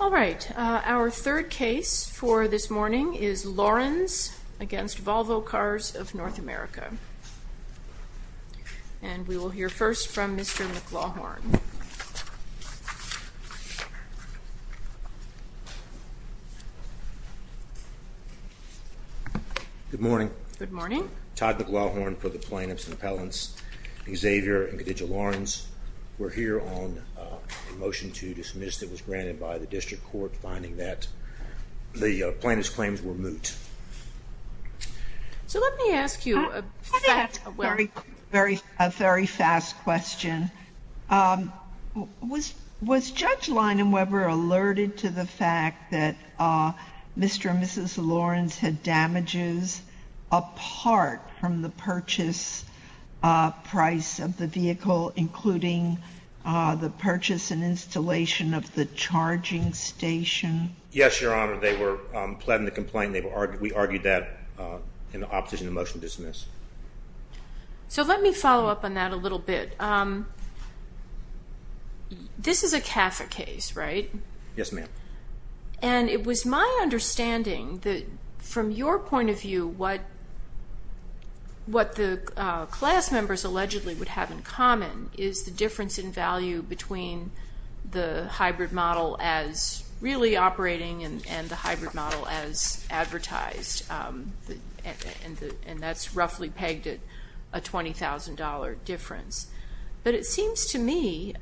All right. Our third case for this morning is Laurens v. Volvo Cars of North America. And we will hear first from Mr. McLaughorn. Good morning. Good morning. Todd McLaughorn for the plaintiffs' appellants Xavier and Khadija finding that the plaintiff's claims were moot. So let me ask you a very, very, a very fast question. Was Judge Leinem Weber alerted to the fact that Mr. and Mrs. Laurens had damages apart from the purchase price of the vehicle, including the purchase and installation of the charging station? Yes, Your Honor. They were pleading the complaint. We argued that in opposition to the motion to dismiss. So let me follow up on that a little bit. This is a CAFA case, right? Yes, ma'am. And it was my understanding that from your point of view, what the class members allegedly would have in common is the difference in value between the hybrid model as really operating and the hybrid model as advertised. And that's roughly pegged at a $20,000 difference. But it seems to me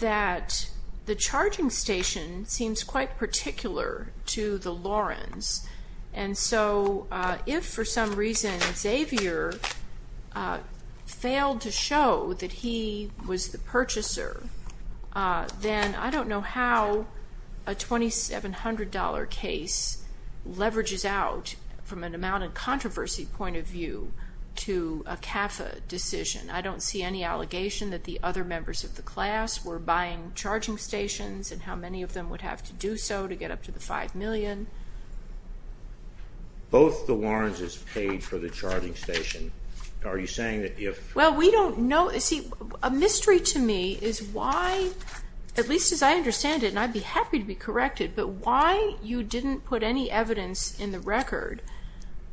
that the charging station seems quite particular to the Laurens. And so if for some reason Xavier failed to show that he was the purchaser, then I don't know how a $2,700 case leverages out from an amount of controversy point of view to a CAFA decision. I don't see any allegation that the other members of the class were buying charging stations and how many of them would have to do so to get up to the $5 million. Both the Laurenses paid for the charging station. Are you saying that if... Well, we don't know. See, a mystery to me is why, at least as I understand it, and I'd be happy to be corrected, but why you didn't put any evidence in the record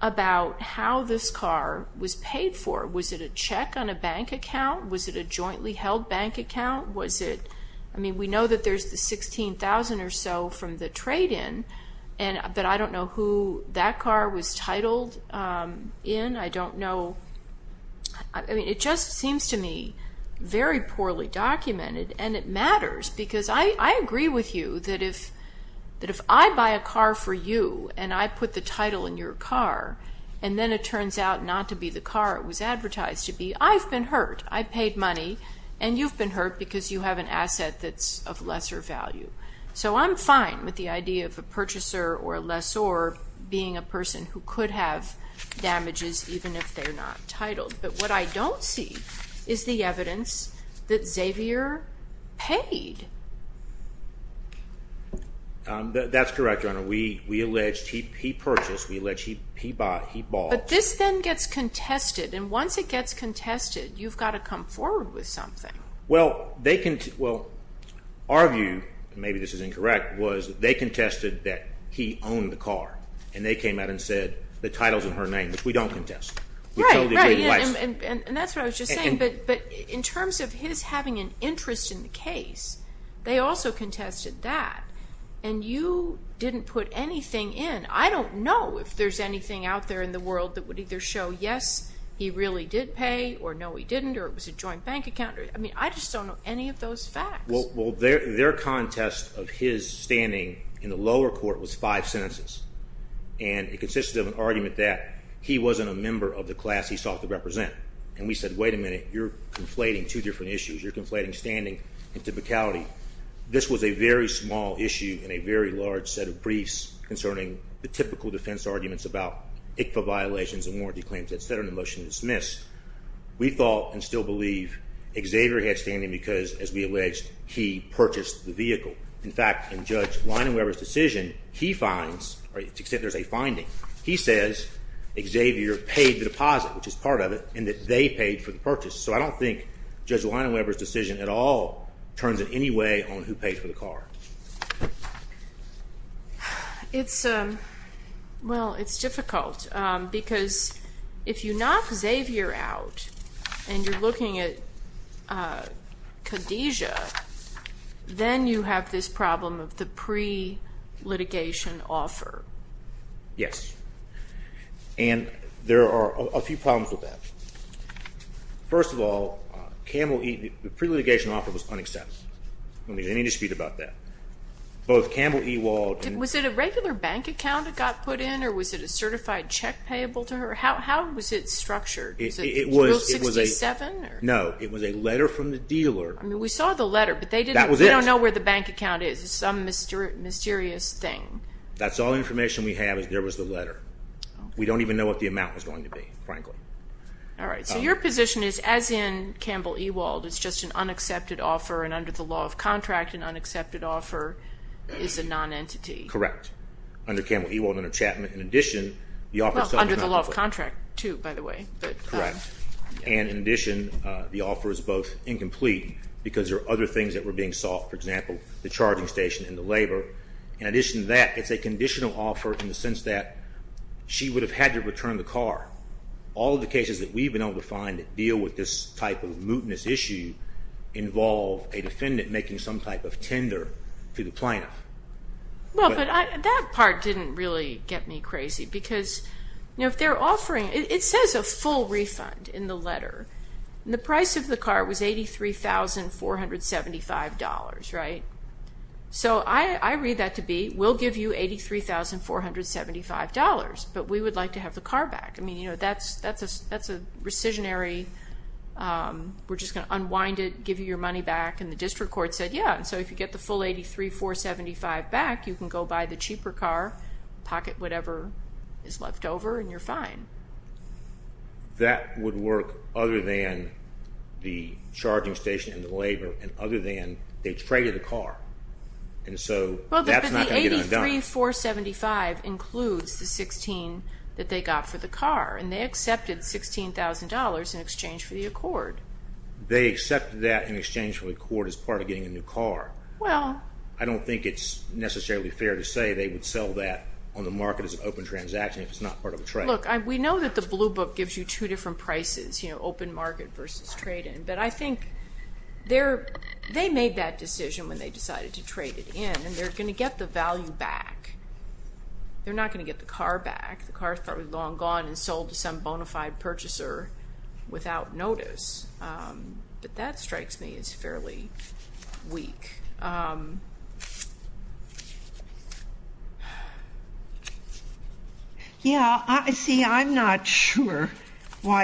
about how this car was paid for. Was it a check on a bank account? Was it a jointly held bank account? I mean, we know that there's the $16,000 or so from the trade-in, but I don't know who that car was titled in. I don't know. I mean, it just seems to me very poorly documented. And it matters because I agree with you that if I buy a car for you and I put the title in your car and then it turns out not to be the car it was advertised to be, I've been hurt. I paid money and you've been hurt because you have an asset that's of lesser value. So I'm fine with the idea of a purchaser or a lessor being a person who could have damages even if they're not titled. But what I don't see is the evidence that Xavier paid. That's correct, Your Honor. We alleged he purchased. We alleged he bought. He bought. This then gets contested. And once it gets contested, you've got to come forward with something. Well, our view, and maybe this is incorrect, was that they contested that he owned the car. And they came out and said the title's in her name, which we don't contest. Right, right. And that's what I was just saying. But in terms of his having an interest in the case, they also contested that. And you didn't put anything in. I don't know if there's anything out there in the world that would either show yes, he really did pay, or no, he didn't, or it was a joint bank account. I just don't know any of those facts. Well, their contest of his standing in the lower court was five sentences. And it consisted of an argument that he wasn't a member of the class he sought to represent. And we said, wait a minute, you're conflating two different issues. You're conflating standing and typicality. This was a very small issue in a very large set of briefs concerning the typical defense arguments about ICFA violations and warranty claims, et cetera, and the motion dismissed. We thought and still believe Xavier had standing because, as we alleged, he purchased the vehicle. In fact, in Judge Leinenweber's decision, he finds, or to the extent there's a finding, he says Xavier paid the deposit, which is part of it, and that they paid for the purchase. So I don't think Judge Leinenweber's paid for the car. It's, well, it's difficult because if you knock Xavier out and you're looking at Khadijah, then you have this problem of the pre-litigation offer. Yes. And there are a few problems with that. First of all, the pre-litigation offer was unacceptable. There's any dispute about that. Was it a regular bank account it got put in or was it a certified check payable to her? How was it structured? It was a letter from the dealer. We saw the letter, but we don't know where the bank account is. It's some mysterious thing. That's all information we have is there was the letter. We don't even know what the amount was going to be, frankly. All right. So your position is as in Campbell-Ewald, it's just an unaccepted offer and under the law of contract, an unaccepted offer is a non-entity. Correct. Under Campbell-Ewald, under Chapman, in addition, the offer is subject to the law of contract, too, by the way. Correct. And in addition, the offer is both incomplete because there are other things that were being sought, for example, the charging station and the labor. In addition to that, it's a all of the cases that we've been able to find that deal with this type of mootness issue involve a defendant making some type of tender to the plaintiff. Well, but that part didn't really get me crazy because, you know, if they're offering, it says a full refund in the letter. The price of the car was $83,475, right? So I read that to be, we'll give you $83,475, but we would like to have the car back. I mean, you know, that's a rescissionary. We're just going to unwind it, give you your money back. And the district court said, yeah. And so if you get the full 83,475 back, you can go buy the cheaper car, pocket whatever is left over and you're fine. That would work other than the charging station and the labor and other than they traded the car. And so that's not going to get undone. But the 83,475 includes the 16 that they got for the car and they accepted $16,000 in exchange for the accord. They accepted that in exchange for the accord as part of getting a new car. Well, I don't think it's necessarily fair to say they would sell that on the market as an open transaction if it's not part of a trade. Look, we know that the blue book gives you two prices, open market versus trade-in. But I think they made that decision when they decided to trade it in and they're going to get the value back. They're not going to get the car back. The car's probably long gone and sold to some bona fide purchaser without notice. But that strikes me as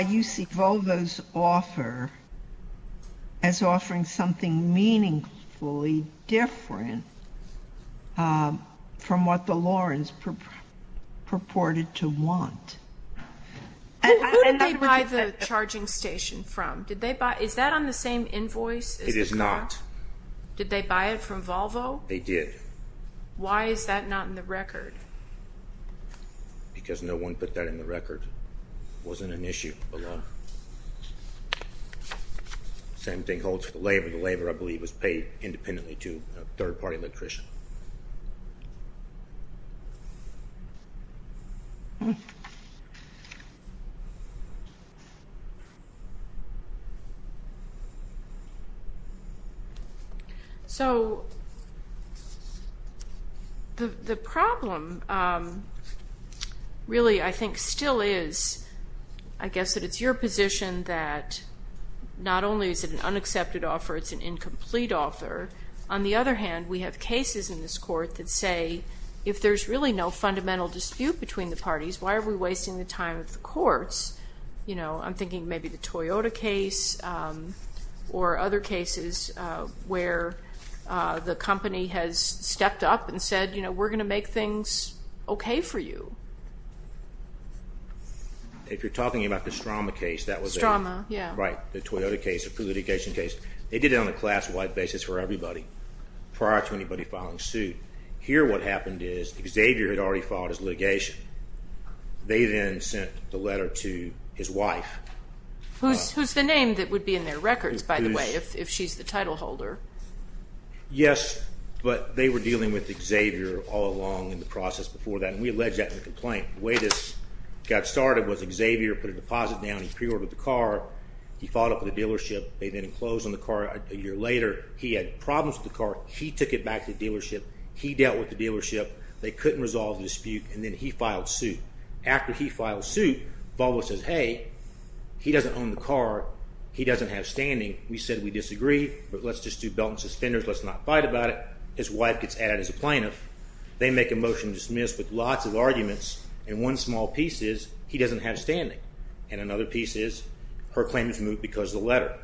UC Volvo's offer as offering something meaningfully different from what the Lawrence purported to want. Who did they buy the charging station from? Is that on the same invoice? It is not. Did they buy it from Volvo? They did. Why is that not in the record? Because no one put that in the record. It wasn't an issue. Same thing holds for the labor. The labor, I believe, was paid independently to a third-party So, the problem really, I think, still is, I guess that it's your position that not only is it an court that say, if there's really no fundamental dispute between the parties, why are we wasting the time of the courts? I'm thinking maybe the Toyota case or other cases where the company has stepped up and said, we're going to make things okay for you. If you're talking about the Strauma case, that was a... Strauma, yeah. Right. The Toyota case, the pre-litigation case. They did it on a class-wide basis for everybody. Prior to anybody filing suit. Here, what happened is Xavier had already filed his litigation. They then sent the letter to his wife. Who's the name that would be in their records, by the way, if she's the title holder. Yes, but they were dealing with Xavier all along in the process before that, and we allege that in the complaint. The way this got started was Xavier put a deposit down. He pre-ordered the car. He followed up with the dealership. They then closed on the car. A year later, he had problems with the car. He took it back to the dealership. He dealt with the dealership. They couldn't resolve the dispute, and then he filed suit. After he filed suit, Volvo says, hey, he doesn't own the car. He doesn't have standing. We said, we disagree, but let's just do belt and suspenders. Let's not fight about it. His wife gets added as a plaintiff. They make a motion to dismiss with lots of arguments, and one small piece is, he doesn't have standing, and another piece is, her claim is moved because of the letter.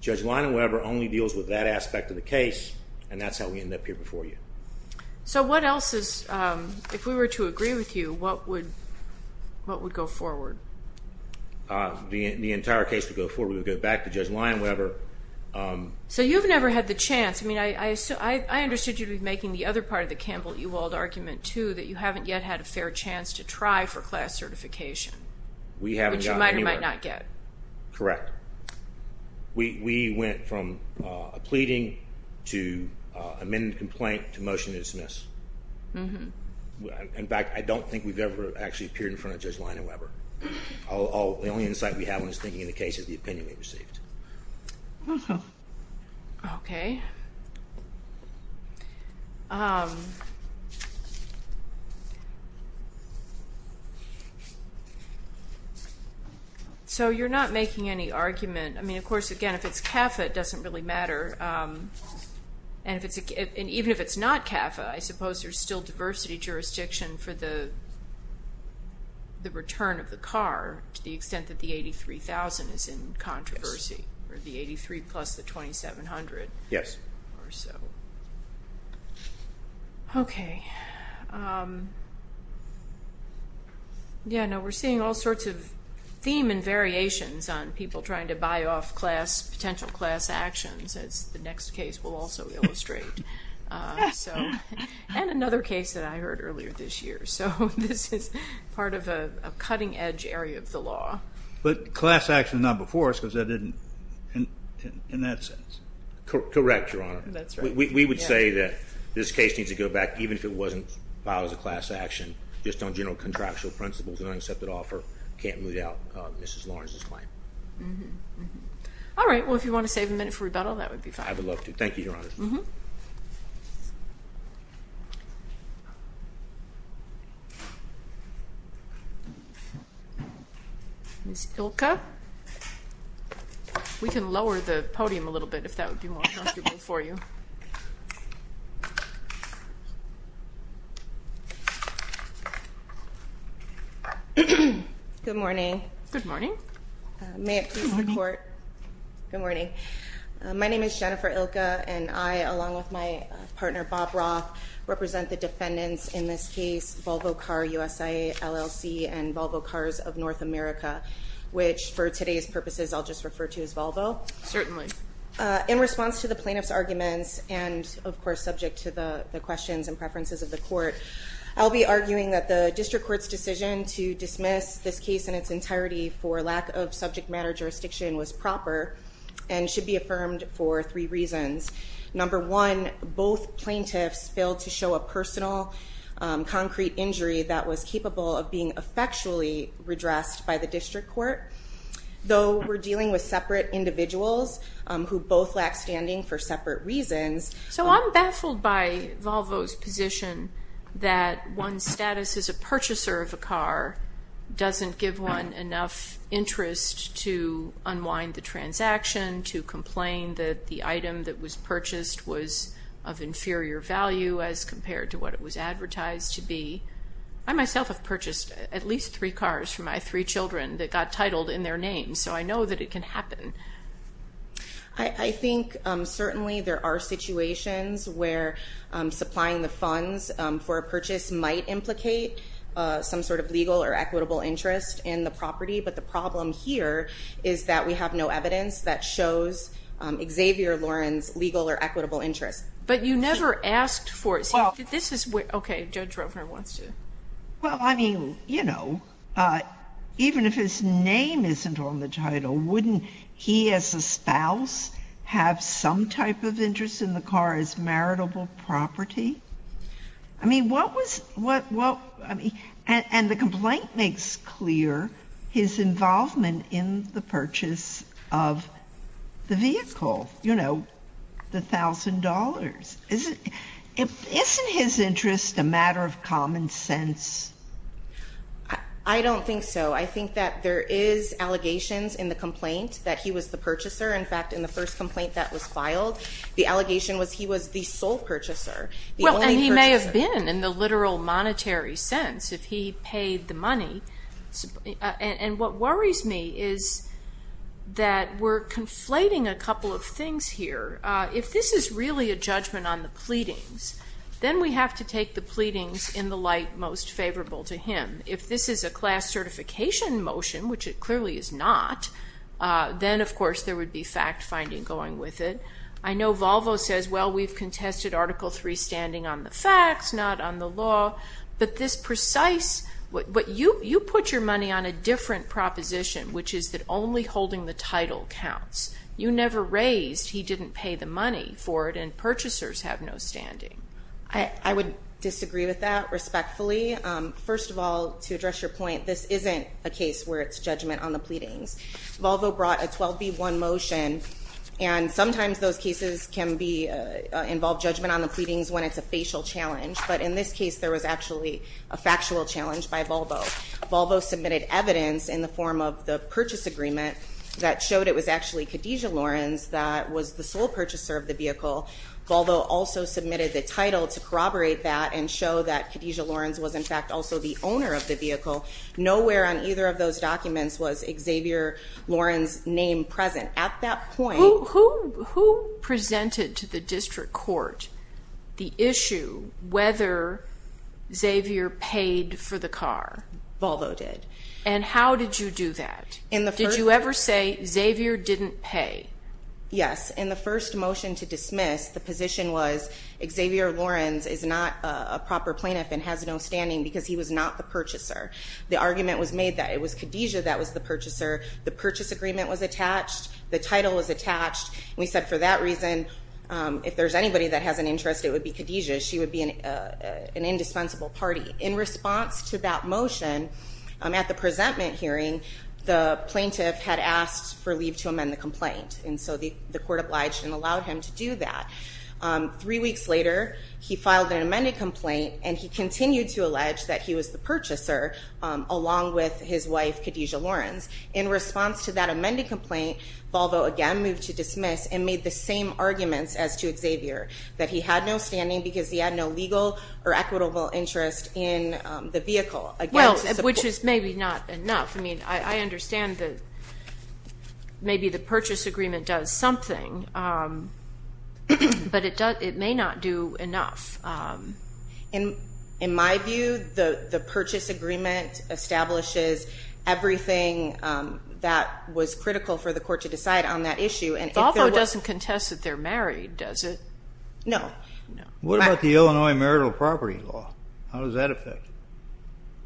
Judge Lyon-Weber only deals with that aspect of the case, and that's how we end up here before you. So what else is, if we were to agree with you, what would go forward? The entire case would go forward. We would go back to Judge Lyon-Weber. So you've never had the chance. I mean, I understood you'd be making the other part of the Campbell-Ewald argument, too, that you haven't yet had a fair chance to try for class certification, which you might or might not get. Correct. We went from a pleading to amended complaint to motion to dismiss. In fact, I don't think we've ever actually appeared in front of Judge Lyon-Weber. The only insight we have on his thinking in the case is the opinion he received. Okay. So you're not making any argument. I mean, of course, again, if it's CAFA, it doesn't really matter, and even if it's not CAFA, I suppose there's still diversity jurisdiction for the return of the car to the extent that the $83,000 is in controversy, or the $83,000 plus the $2,700 or so. Yes. Okay. Yeah, no, we're seeing all sorts of theme and variations on people trying to buy off class, potential class actions, as the next case will also illustrate. And another case that I heard earlier this year. So this is part of a cutting-edge area of the law. But class action not before us, because that didn't, in that sense. Correct, Your Honor. That's right. We would say that this case needs to go back, even if it wasn't filed as a class action, just on general contractual principles, an unaccepted offer can't move out of Mrs. Lawrence's claim. All right. Well, if you want to save a minute for rebuttal, that would be fine. I would love to. Thank you, Your Honor. Ms. Ilka, we can lower the podium a little bit, if that would be more comfortable for you. Good morning. Good morning. May it please the Court. Good morning. My name is Jennifer Ilka, and I, along with my partner, Bob Roth, represent the defendants in this case, Volvo Car, USIA, LLC, and Volvo Cars of North America, which for today's purposes, I'll just of course subject to the questions and preferences of the Court, I'll be arguing that the District Court's decision to dismiss this case in its entirety for lack of subject matter jurisdiction was proper, and should be affirmed for three reasons. Number one, both plaintiffs failed to show a personal, concrete injury that was capable of being effectually redressed by the District Court. Though we're dealing with separate individuals, who both lack standing for separate reasons. So I'm baffled by Volvo's position that one's status as a purchaser of a car doesn't give one enough interest to unwind the transaction, to complain that the item that was purchased was of inferior value as compared to what it was advertised to be. I myself have purchased at least three cars for my three children that got titled in their names, so I know that it can are situations where supplying the funds for a purchase might implicate some sort of legal or equitable interest in the property, but the problem here is that we have no evidence that shows Xavier Loren's legal or equitable interest. But you never asked for it, so this is where, okay, Judge Rovner wants to. Well, I mean, you know, even if his name isn't on the title, wouldn't he as a spouse have some type of interest in the car as maritable property? I mean, what was, what, what, I mean, and the complaint makes clear his involvement in the purchase of the vehicle, you know, the thousand dollars. Isn't, isn't his interest a matter of common sense? I don't think so. I think that there is allegations in the complaint that he was the purchaser. In fact, in the first complaint that was filed, the allegation was he was the sole purchaser. Well, and he may have been in the literal monetary sense if he paid the money. And what worries me is that we're conflating a couple of things here. If this is really a If this is a class certification motion, which it clearly is not, then of course there would be fact-finding going with it. I know Volvo says, well, we've contested Article III standing on the facts, not on the law. But this precise, but you, you put your money on a different proposition, which is that only holding the title counts. You never raised he didn't pay the money for it, purchasers have no standing. I would disagree with that respectfully. First of all, to address your point, this isn't a case where it's judgment on the pleadings. Volvo brought a 12B1 motion, and sometimes those cases can be, involve judgment on the pleadings when it's a facial challenge. But in this case, there was actually a factual challenge by Volvo. Volvo submitted evidence in the form of the purchase agreement that showed it was actually Khadijah Lawrence that was the purchaser of the vehicle. Volvo also submitted the title to corroborate that and show that Khadijah Lawrence was in fact also the owner of the vehicle. Nowhere on either of those documents was Xavier Lawrence's name present. At that point... Who, who, who presented to the district court the issue whether Xavier paid for the car? Volvo did. And how did you do that? In the first... motion to dismiss, the position was Xavier Lawrence is not a proper plaintiff and has no standing because he was not the purchaser. The argument was made that it was Khadijah that was the purchaser. The purchase agreement was attached. The title was attached. We said for that reason, if there's anybody that has an interest, it would be Khadijah. She would be an indispensable party. In response to that motion, at the presentment hearing, the plaintiff had asked for leave to amend the agreement that allowed him to do that. Three weeks later, he filed an amended complaint and he continued to allege that he was the purchaser along with his wife Khadijah Lawrence. In response to that amended complaint, Volvo again moved to dismiss and made the same arguments as to Xavier, that he had no standing because he had no legal or equitable interest in the vehicle. Well, which is maybe not enough. I mean, I understand that maybe the purchase agreement does something, but it may not do enough. In my view, the purchase agreement establishes everything that was critical for the court to decide on that issue. Volvo doesn't contest that they're married, does it? No. What about the Illinois marital property law? How does that affect it?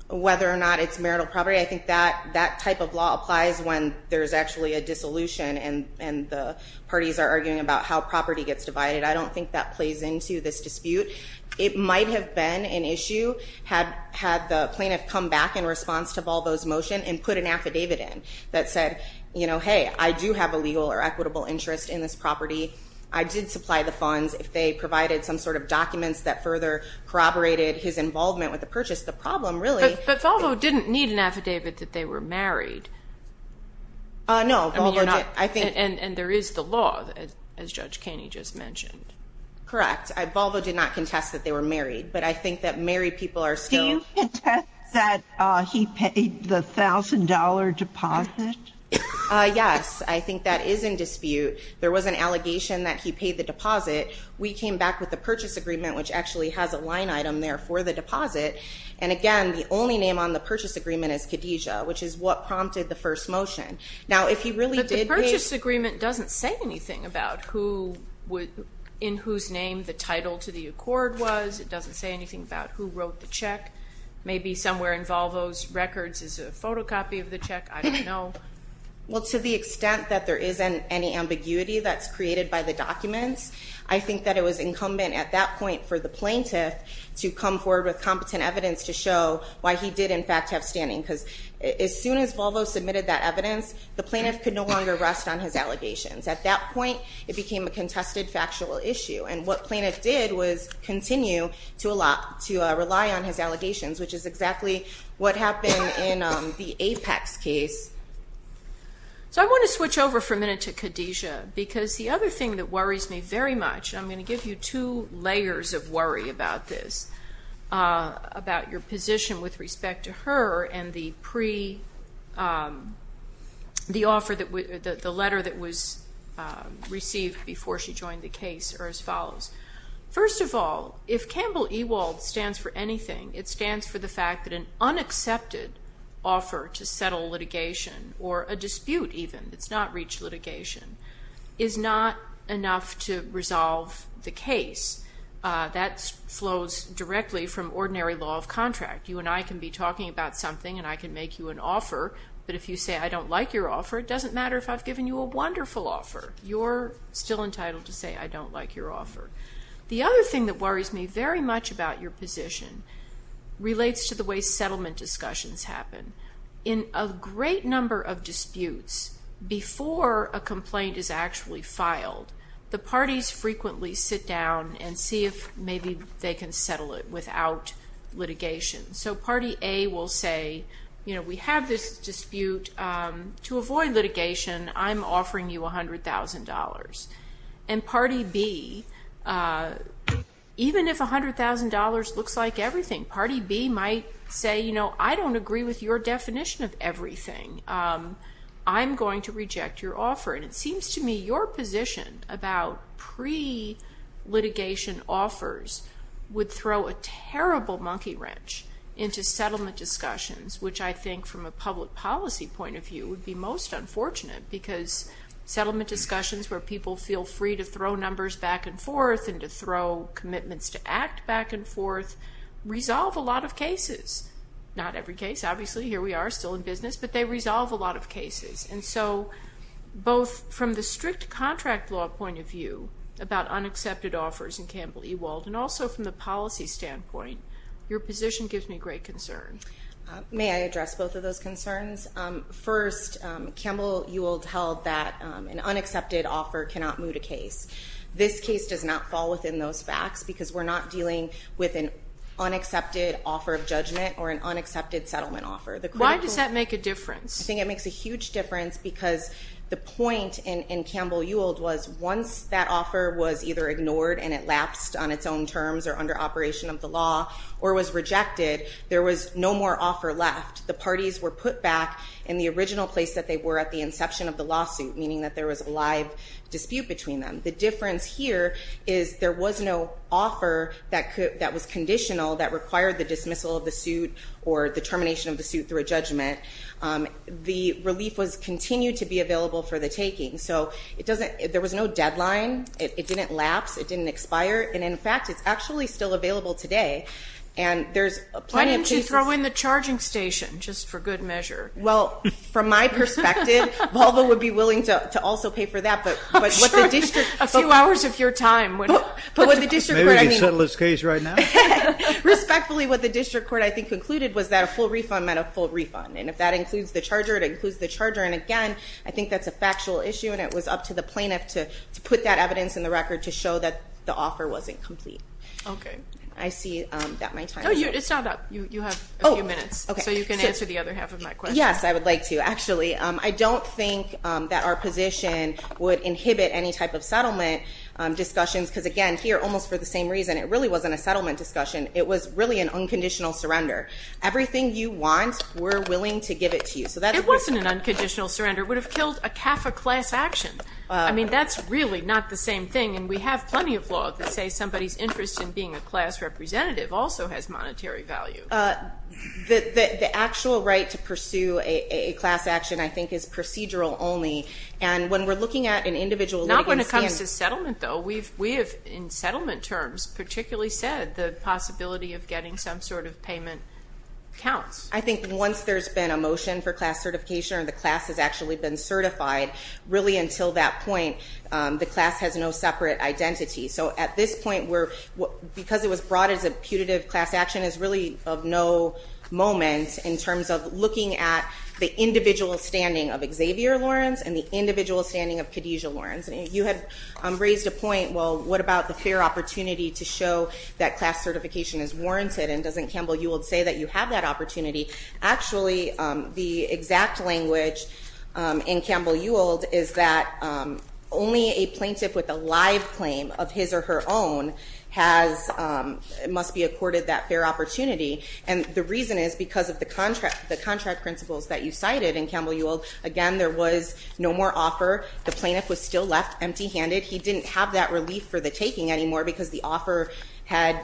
Whether or not it's marital property, I think that type of law applies when there's actually a dissolution and the parties are arguing about how property gets divided. I don't think that plays into this dispute. It might have been an issue had the plaintiff come back in response to Volvo's motion and put an affidavit in that said, you know, hey, I do have a legal or equitable interest in this property. I did supply the funds. If they provided some sort of documents that further corroborated his affidavit that they were married. No. And there is the law, as Judge Caney just mentioned. Correct. Volvo did not contest that they were married, but I think that married people are still... Do you contest that he paid the $1,000 deposit? Yes, I think that is in dispute. There was an allegation that he paid the deposit. We came back with the purchase agreement, which actually has a name on the purchase agreement as Khadijah, which is what prompted the first motion. Now, if he really did... But the purchase agreement doesn't say anything about who in whose name the title to the accord was. It doesn't say anything about who wrote the check. Maybe somewhere in Volvo's records is a photocopy of the check. I don't know. Well, to the extent that there isn't any ambiguity that's created by the documents, I think that it was incumbent at that point for the plaintiff to come forward with competent evidence to show why he did in fact have standing. Because as soon as Volvo submitted that evidence, the plaintiff could no longer rest on his allegations. At that point, it became a contested factual issue. And what plaintiff did was continue to rely on his allegations, which is exactly what happened in the Apex case. So I want to switch over for a minute to Khadijah, because the other thing that worries me very much, and I'm going to give you two positions with respect to her and the letter that was received before she joined the case, are as follows. First of all, if Campbell Ewald stands for anything, it stands for the fact that an unaccepted offer to settle litigation, or a dispute even that's not reached litigation, is not enough to resolve the case. That flows directly from ordinary law of contract. You and I can be talking about something, and I can make you an offer. But if you say, I don't like your offer, it doesn't matter if I've given you a wonderful offer. You're still entitled to say, I don't like your offer. The other thing that worries me very much about your position relates to the way settlement discussions happen. In a great number of disputes, before a complaint is actually filed, the parties frequently sit down and see if maybe they can settle it without litigation. So party A will say, we have this dispute. To avoid litigation, I'm offering you $100,000. And party B, even if $100,000 looks like everything, party B might say, I don't agree with your definition of everything. I'm going to reject your offer. And it seems to me your position about pre-litigation offers would throw a terrible monkey wrench into settlement discussions, which I think from a public policy point of view would be most unfortunate. Because settlement discussions where people feel free to throw numbers back and not every case, obviously here we are still in business, but they resolve a lot of cases. And so both from the strict contract law point of view about unaccepted offers in Campbell-Ewald and also from the policy standpoint, your position gives me great concern. May I address both of those concerns? First, Campbell-Ewald held that an unaccepted offer cannot moot a case. This case does not fall within those facts because we're not dealing with an unaccepted offer of judgment or an unaccepted settlement offer. Why does that make a difference? I think it makes a huge difference because the point in Campbell-Ewald was once that offer was either ignored and it lapsed on its own terms or under operation of the law or was rejected, there was no more offer left. The parties were put back in the original place that they were at the inception of the lawsuit, meaning that there was a live dispute between them. The difference here is there was no offer that was conditional that required the dismissal of the suit or the termination of the suit through a judgment. The relief was continued to be available for the taking. So there was no deadline. It didn't lapse. It didn't expire. And in fact, it's actually still available today. And there's plenty of cases- Why didn't you throw in the charging station, just for good measure? Well, from my perspective, Volvo would be willing to also pay for that, but what the district- A few hours of your time would have- But what the district court- Maybe we can settle this case right now. Respectfully, what the district court, I think, concluded was that a full refund meant a full refund. And if that includes the charger, it includes the charger. And again, I think that's a factual issue. And it was up to the plaintiff to put that evidence in the record to show that the offer wasn't complete. I see that my time- No, it's not up. You have a few minutes. So you can answer the other half of my question. Yes, I would like to, actually. I don't think that our position would inhibit any type of settlement discussions. Because again, here, almost for the same reason, it really wasn't a settlement discussion. It was really an unconditional surrender. Everything you want, we're willing to give it to you. So that's- It wasn't an unconditional surrender. It would have killed a CAFA class action. I mean, that's really not the same thing. And we have plenty of law that say somebody's interest in being a class representative also has monetary value. The actual right to pursue a class action, I think, is procedural only. And when we're looking at an individual- Not when it comes to settlement, though. We have, in settlement terms, particularly said the possibility of getting some sort of payment counts. I think once there's been a motion for class certification or the class has actually been certified, really until that point, the class has no separate identity. So at this point, because it was brought as a putative class action, is really of no moment in terms of looking at the individual standing of Xavier Lawrence and the individual standing of Khadijah Lawrence. You have raised a point, well, what about the fair opportunity to show that class certification is warranted? And doesn't Campbell-Uwald say that you have that opportunity? Actually, the exact language in Campbell-Uwald is that only a plaintiff with a live claim of his or her own has, must be accorded that fair opportunity. And the reason is because of the contract principles that you cited in Campbell-Uwald. Again, there was no more offer. The plaintiff was still left empty-handed. He didn't have that relief for the taking anymore because the offer had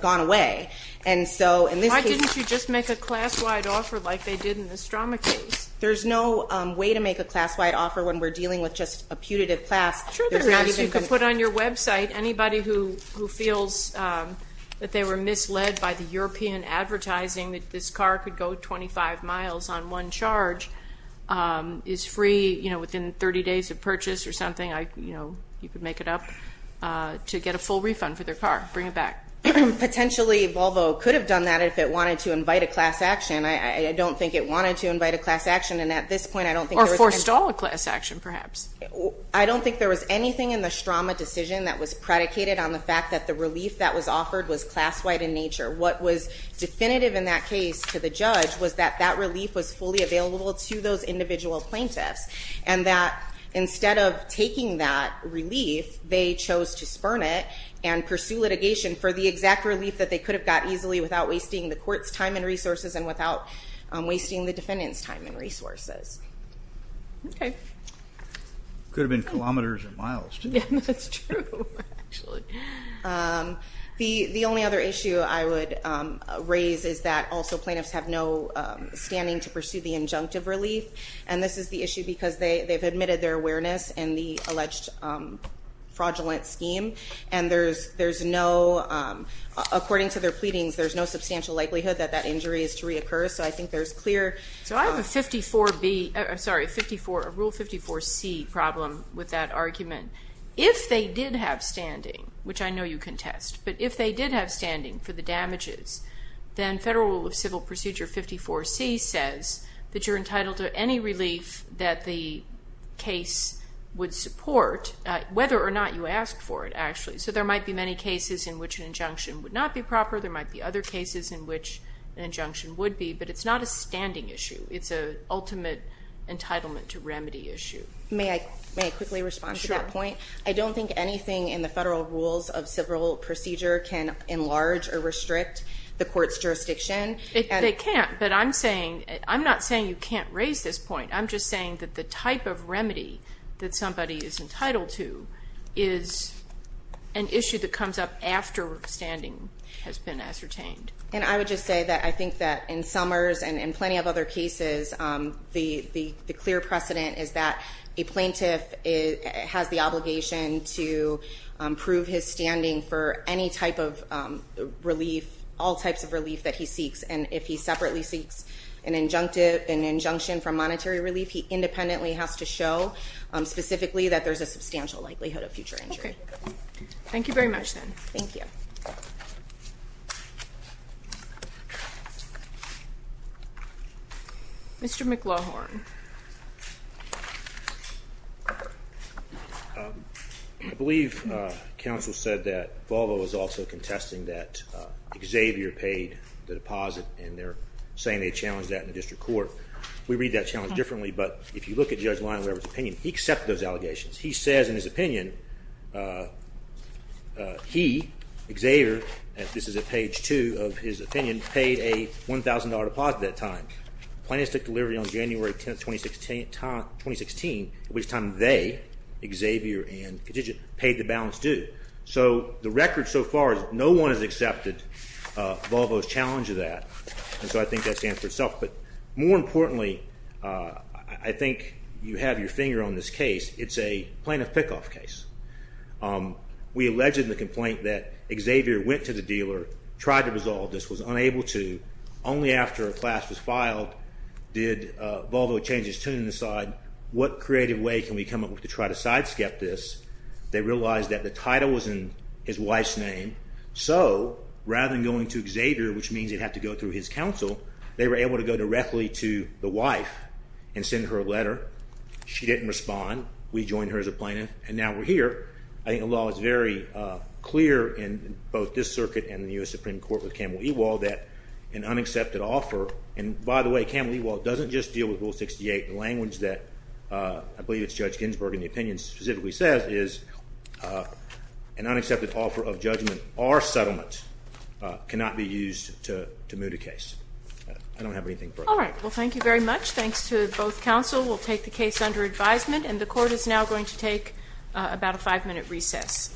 gone away. And so in this case- Why didn't you just make a class-wide offer like they did in the Stroma case? There's no way to make a class-wide offer when we're dealing with just a putative class. Sure there is. You can put on your website, anybody who feels that they were misled by the European advertising that this car could go 25 miles on one charge is free within 30 days of purchase or something. You could make it up to get a full refund for their car, bring it back. Potentially, Volvo could have done that if it wanted to invite a class action. I don't think it wanted to invite a class action. And at this point, I don't think- Or forestall a class action, perhaps. I don't think there was anything in the Stroma decision that was predicated on the fact that the relief that was offered was class-wide in nature. What was definitive in that case to the judge was that that relief was fully available to those individual plaintiffs. And that instead of taking that relief, they chose to spurn it and pursue litigation for the exact relief that they could have got easily without wasting the court's time and resources and without wasting the defendant's time and resources. Okay. Could have been kilometers or miles, too. Yeah, that's true, actually. The only other issue I would raise is that also plaintiffs have no standing to pursue the injunctive relief. And this is the issue because they've admitted their awareness in the alleged fraudulent scheme. And according to their pleadings, there's no substantial likelihood that that injury is to reoccur. So I think there's clear- So I have a Rule 54C problem with that argument. If they did have standing, which I know you contest, but if they did have standing for the damages, then Federal Rule of Civil Procedure 54C says that you're entitled to any relief that the case would support, whether or not you asked for it, actually. So there might be many cases in which an injunction would not be proper. There might be other cases in which an injunction would be, but it's not a standing issue. It's an ultimate entitlement to remedy issue. May I quickly respond to that point? I don't think anything in the Federal Rules of Civil Procedure can enlarge or restrict the court's jurisdiction. They can't, but I'm not saying you can't raise this point. I'm just saying that the type of remedy that somebody is entitled to is an issue that comes up after standing has been ascertained. And I would just say that I think that in Summers and in plenty of other cases, the clear precedent is that a plaintiff has the obligation to prove his standing for any type of relief, all types of relief that he seeks. And if he separately seeks an injunction from monetary relief, he independently has to show specifically that there's a substantial likelihood of future Thank you. Mr. McLaughlin. I believe counsel said that Volvo was also contesting that Xavier paid the deposit and they're saying they challenged that in the district court. We read that challenge differently, but if you look at Judge Lineweaver's opinion, he accepted those allegations. He says in his opinion, he, Xavier, and this is at page two of his opinion, paid a $1,000 deposit that time. Plaintiffs took delivery on January 10, 2016, at which time they, Xavier and Contingent, paid the balance due. So the record so far is no one has accepted Volvo's challenge of that, and so I think that stands for itself. But more importantly, I think you have your finger on this case. It's a plaintiff pickoff case. We alleged in the complaint that Xavier went to the dealer, tried to resolve this, was unable to. Only after a class was filed did Volvo change his tune and decide, what creative way can we come up with to try to side-skip this? They realized that the title was in his wife's name, so rather than going to Xavier, which means they'd have to go through his counsel, they were able to go directly to the wife and send her a letter. She didn't respond. We joined her as a plaintiff, and now we're here. I think the law is very clear in both this circuit and the U.S. Supreme Court with Kamal Ewald that an unaccepted offer, and by the way, Kamal Ewald doesn't just deal with Rule 68. The language that, I believe it's Judge Ginsburg in the opinion specifically says, is an unaccepted offer of judgment or settlement cannot be used to move the case. I don't have anything further. All right. Well, thank you very much. Thanks to both counsel. We'll take the case under advisement, and the Court is now going to take about a five-minute recess.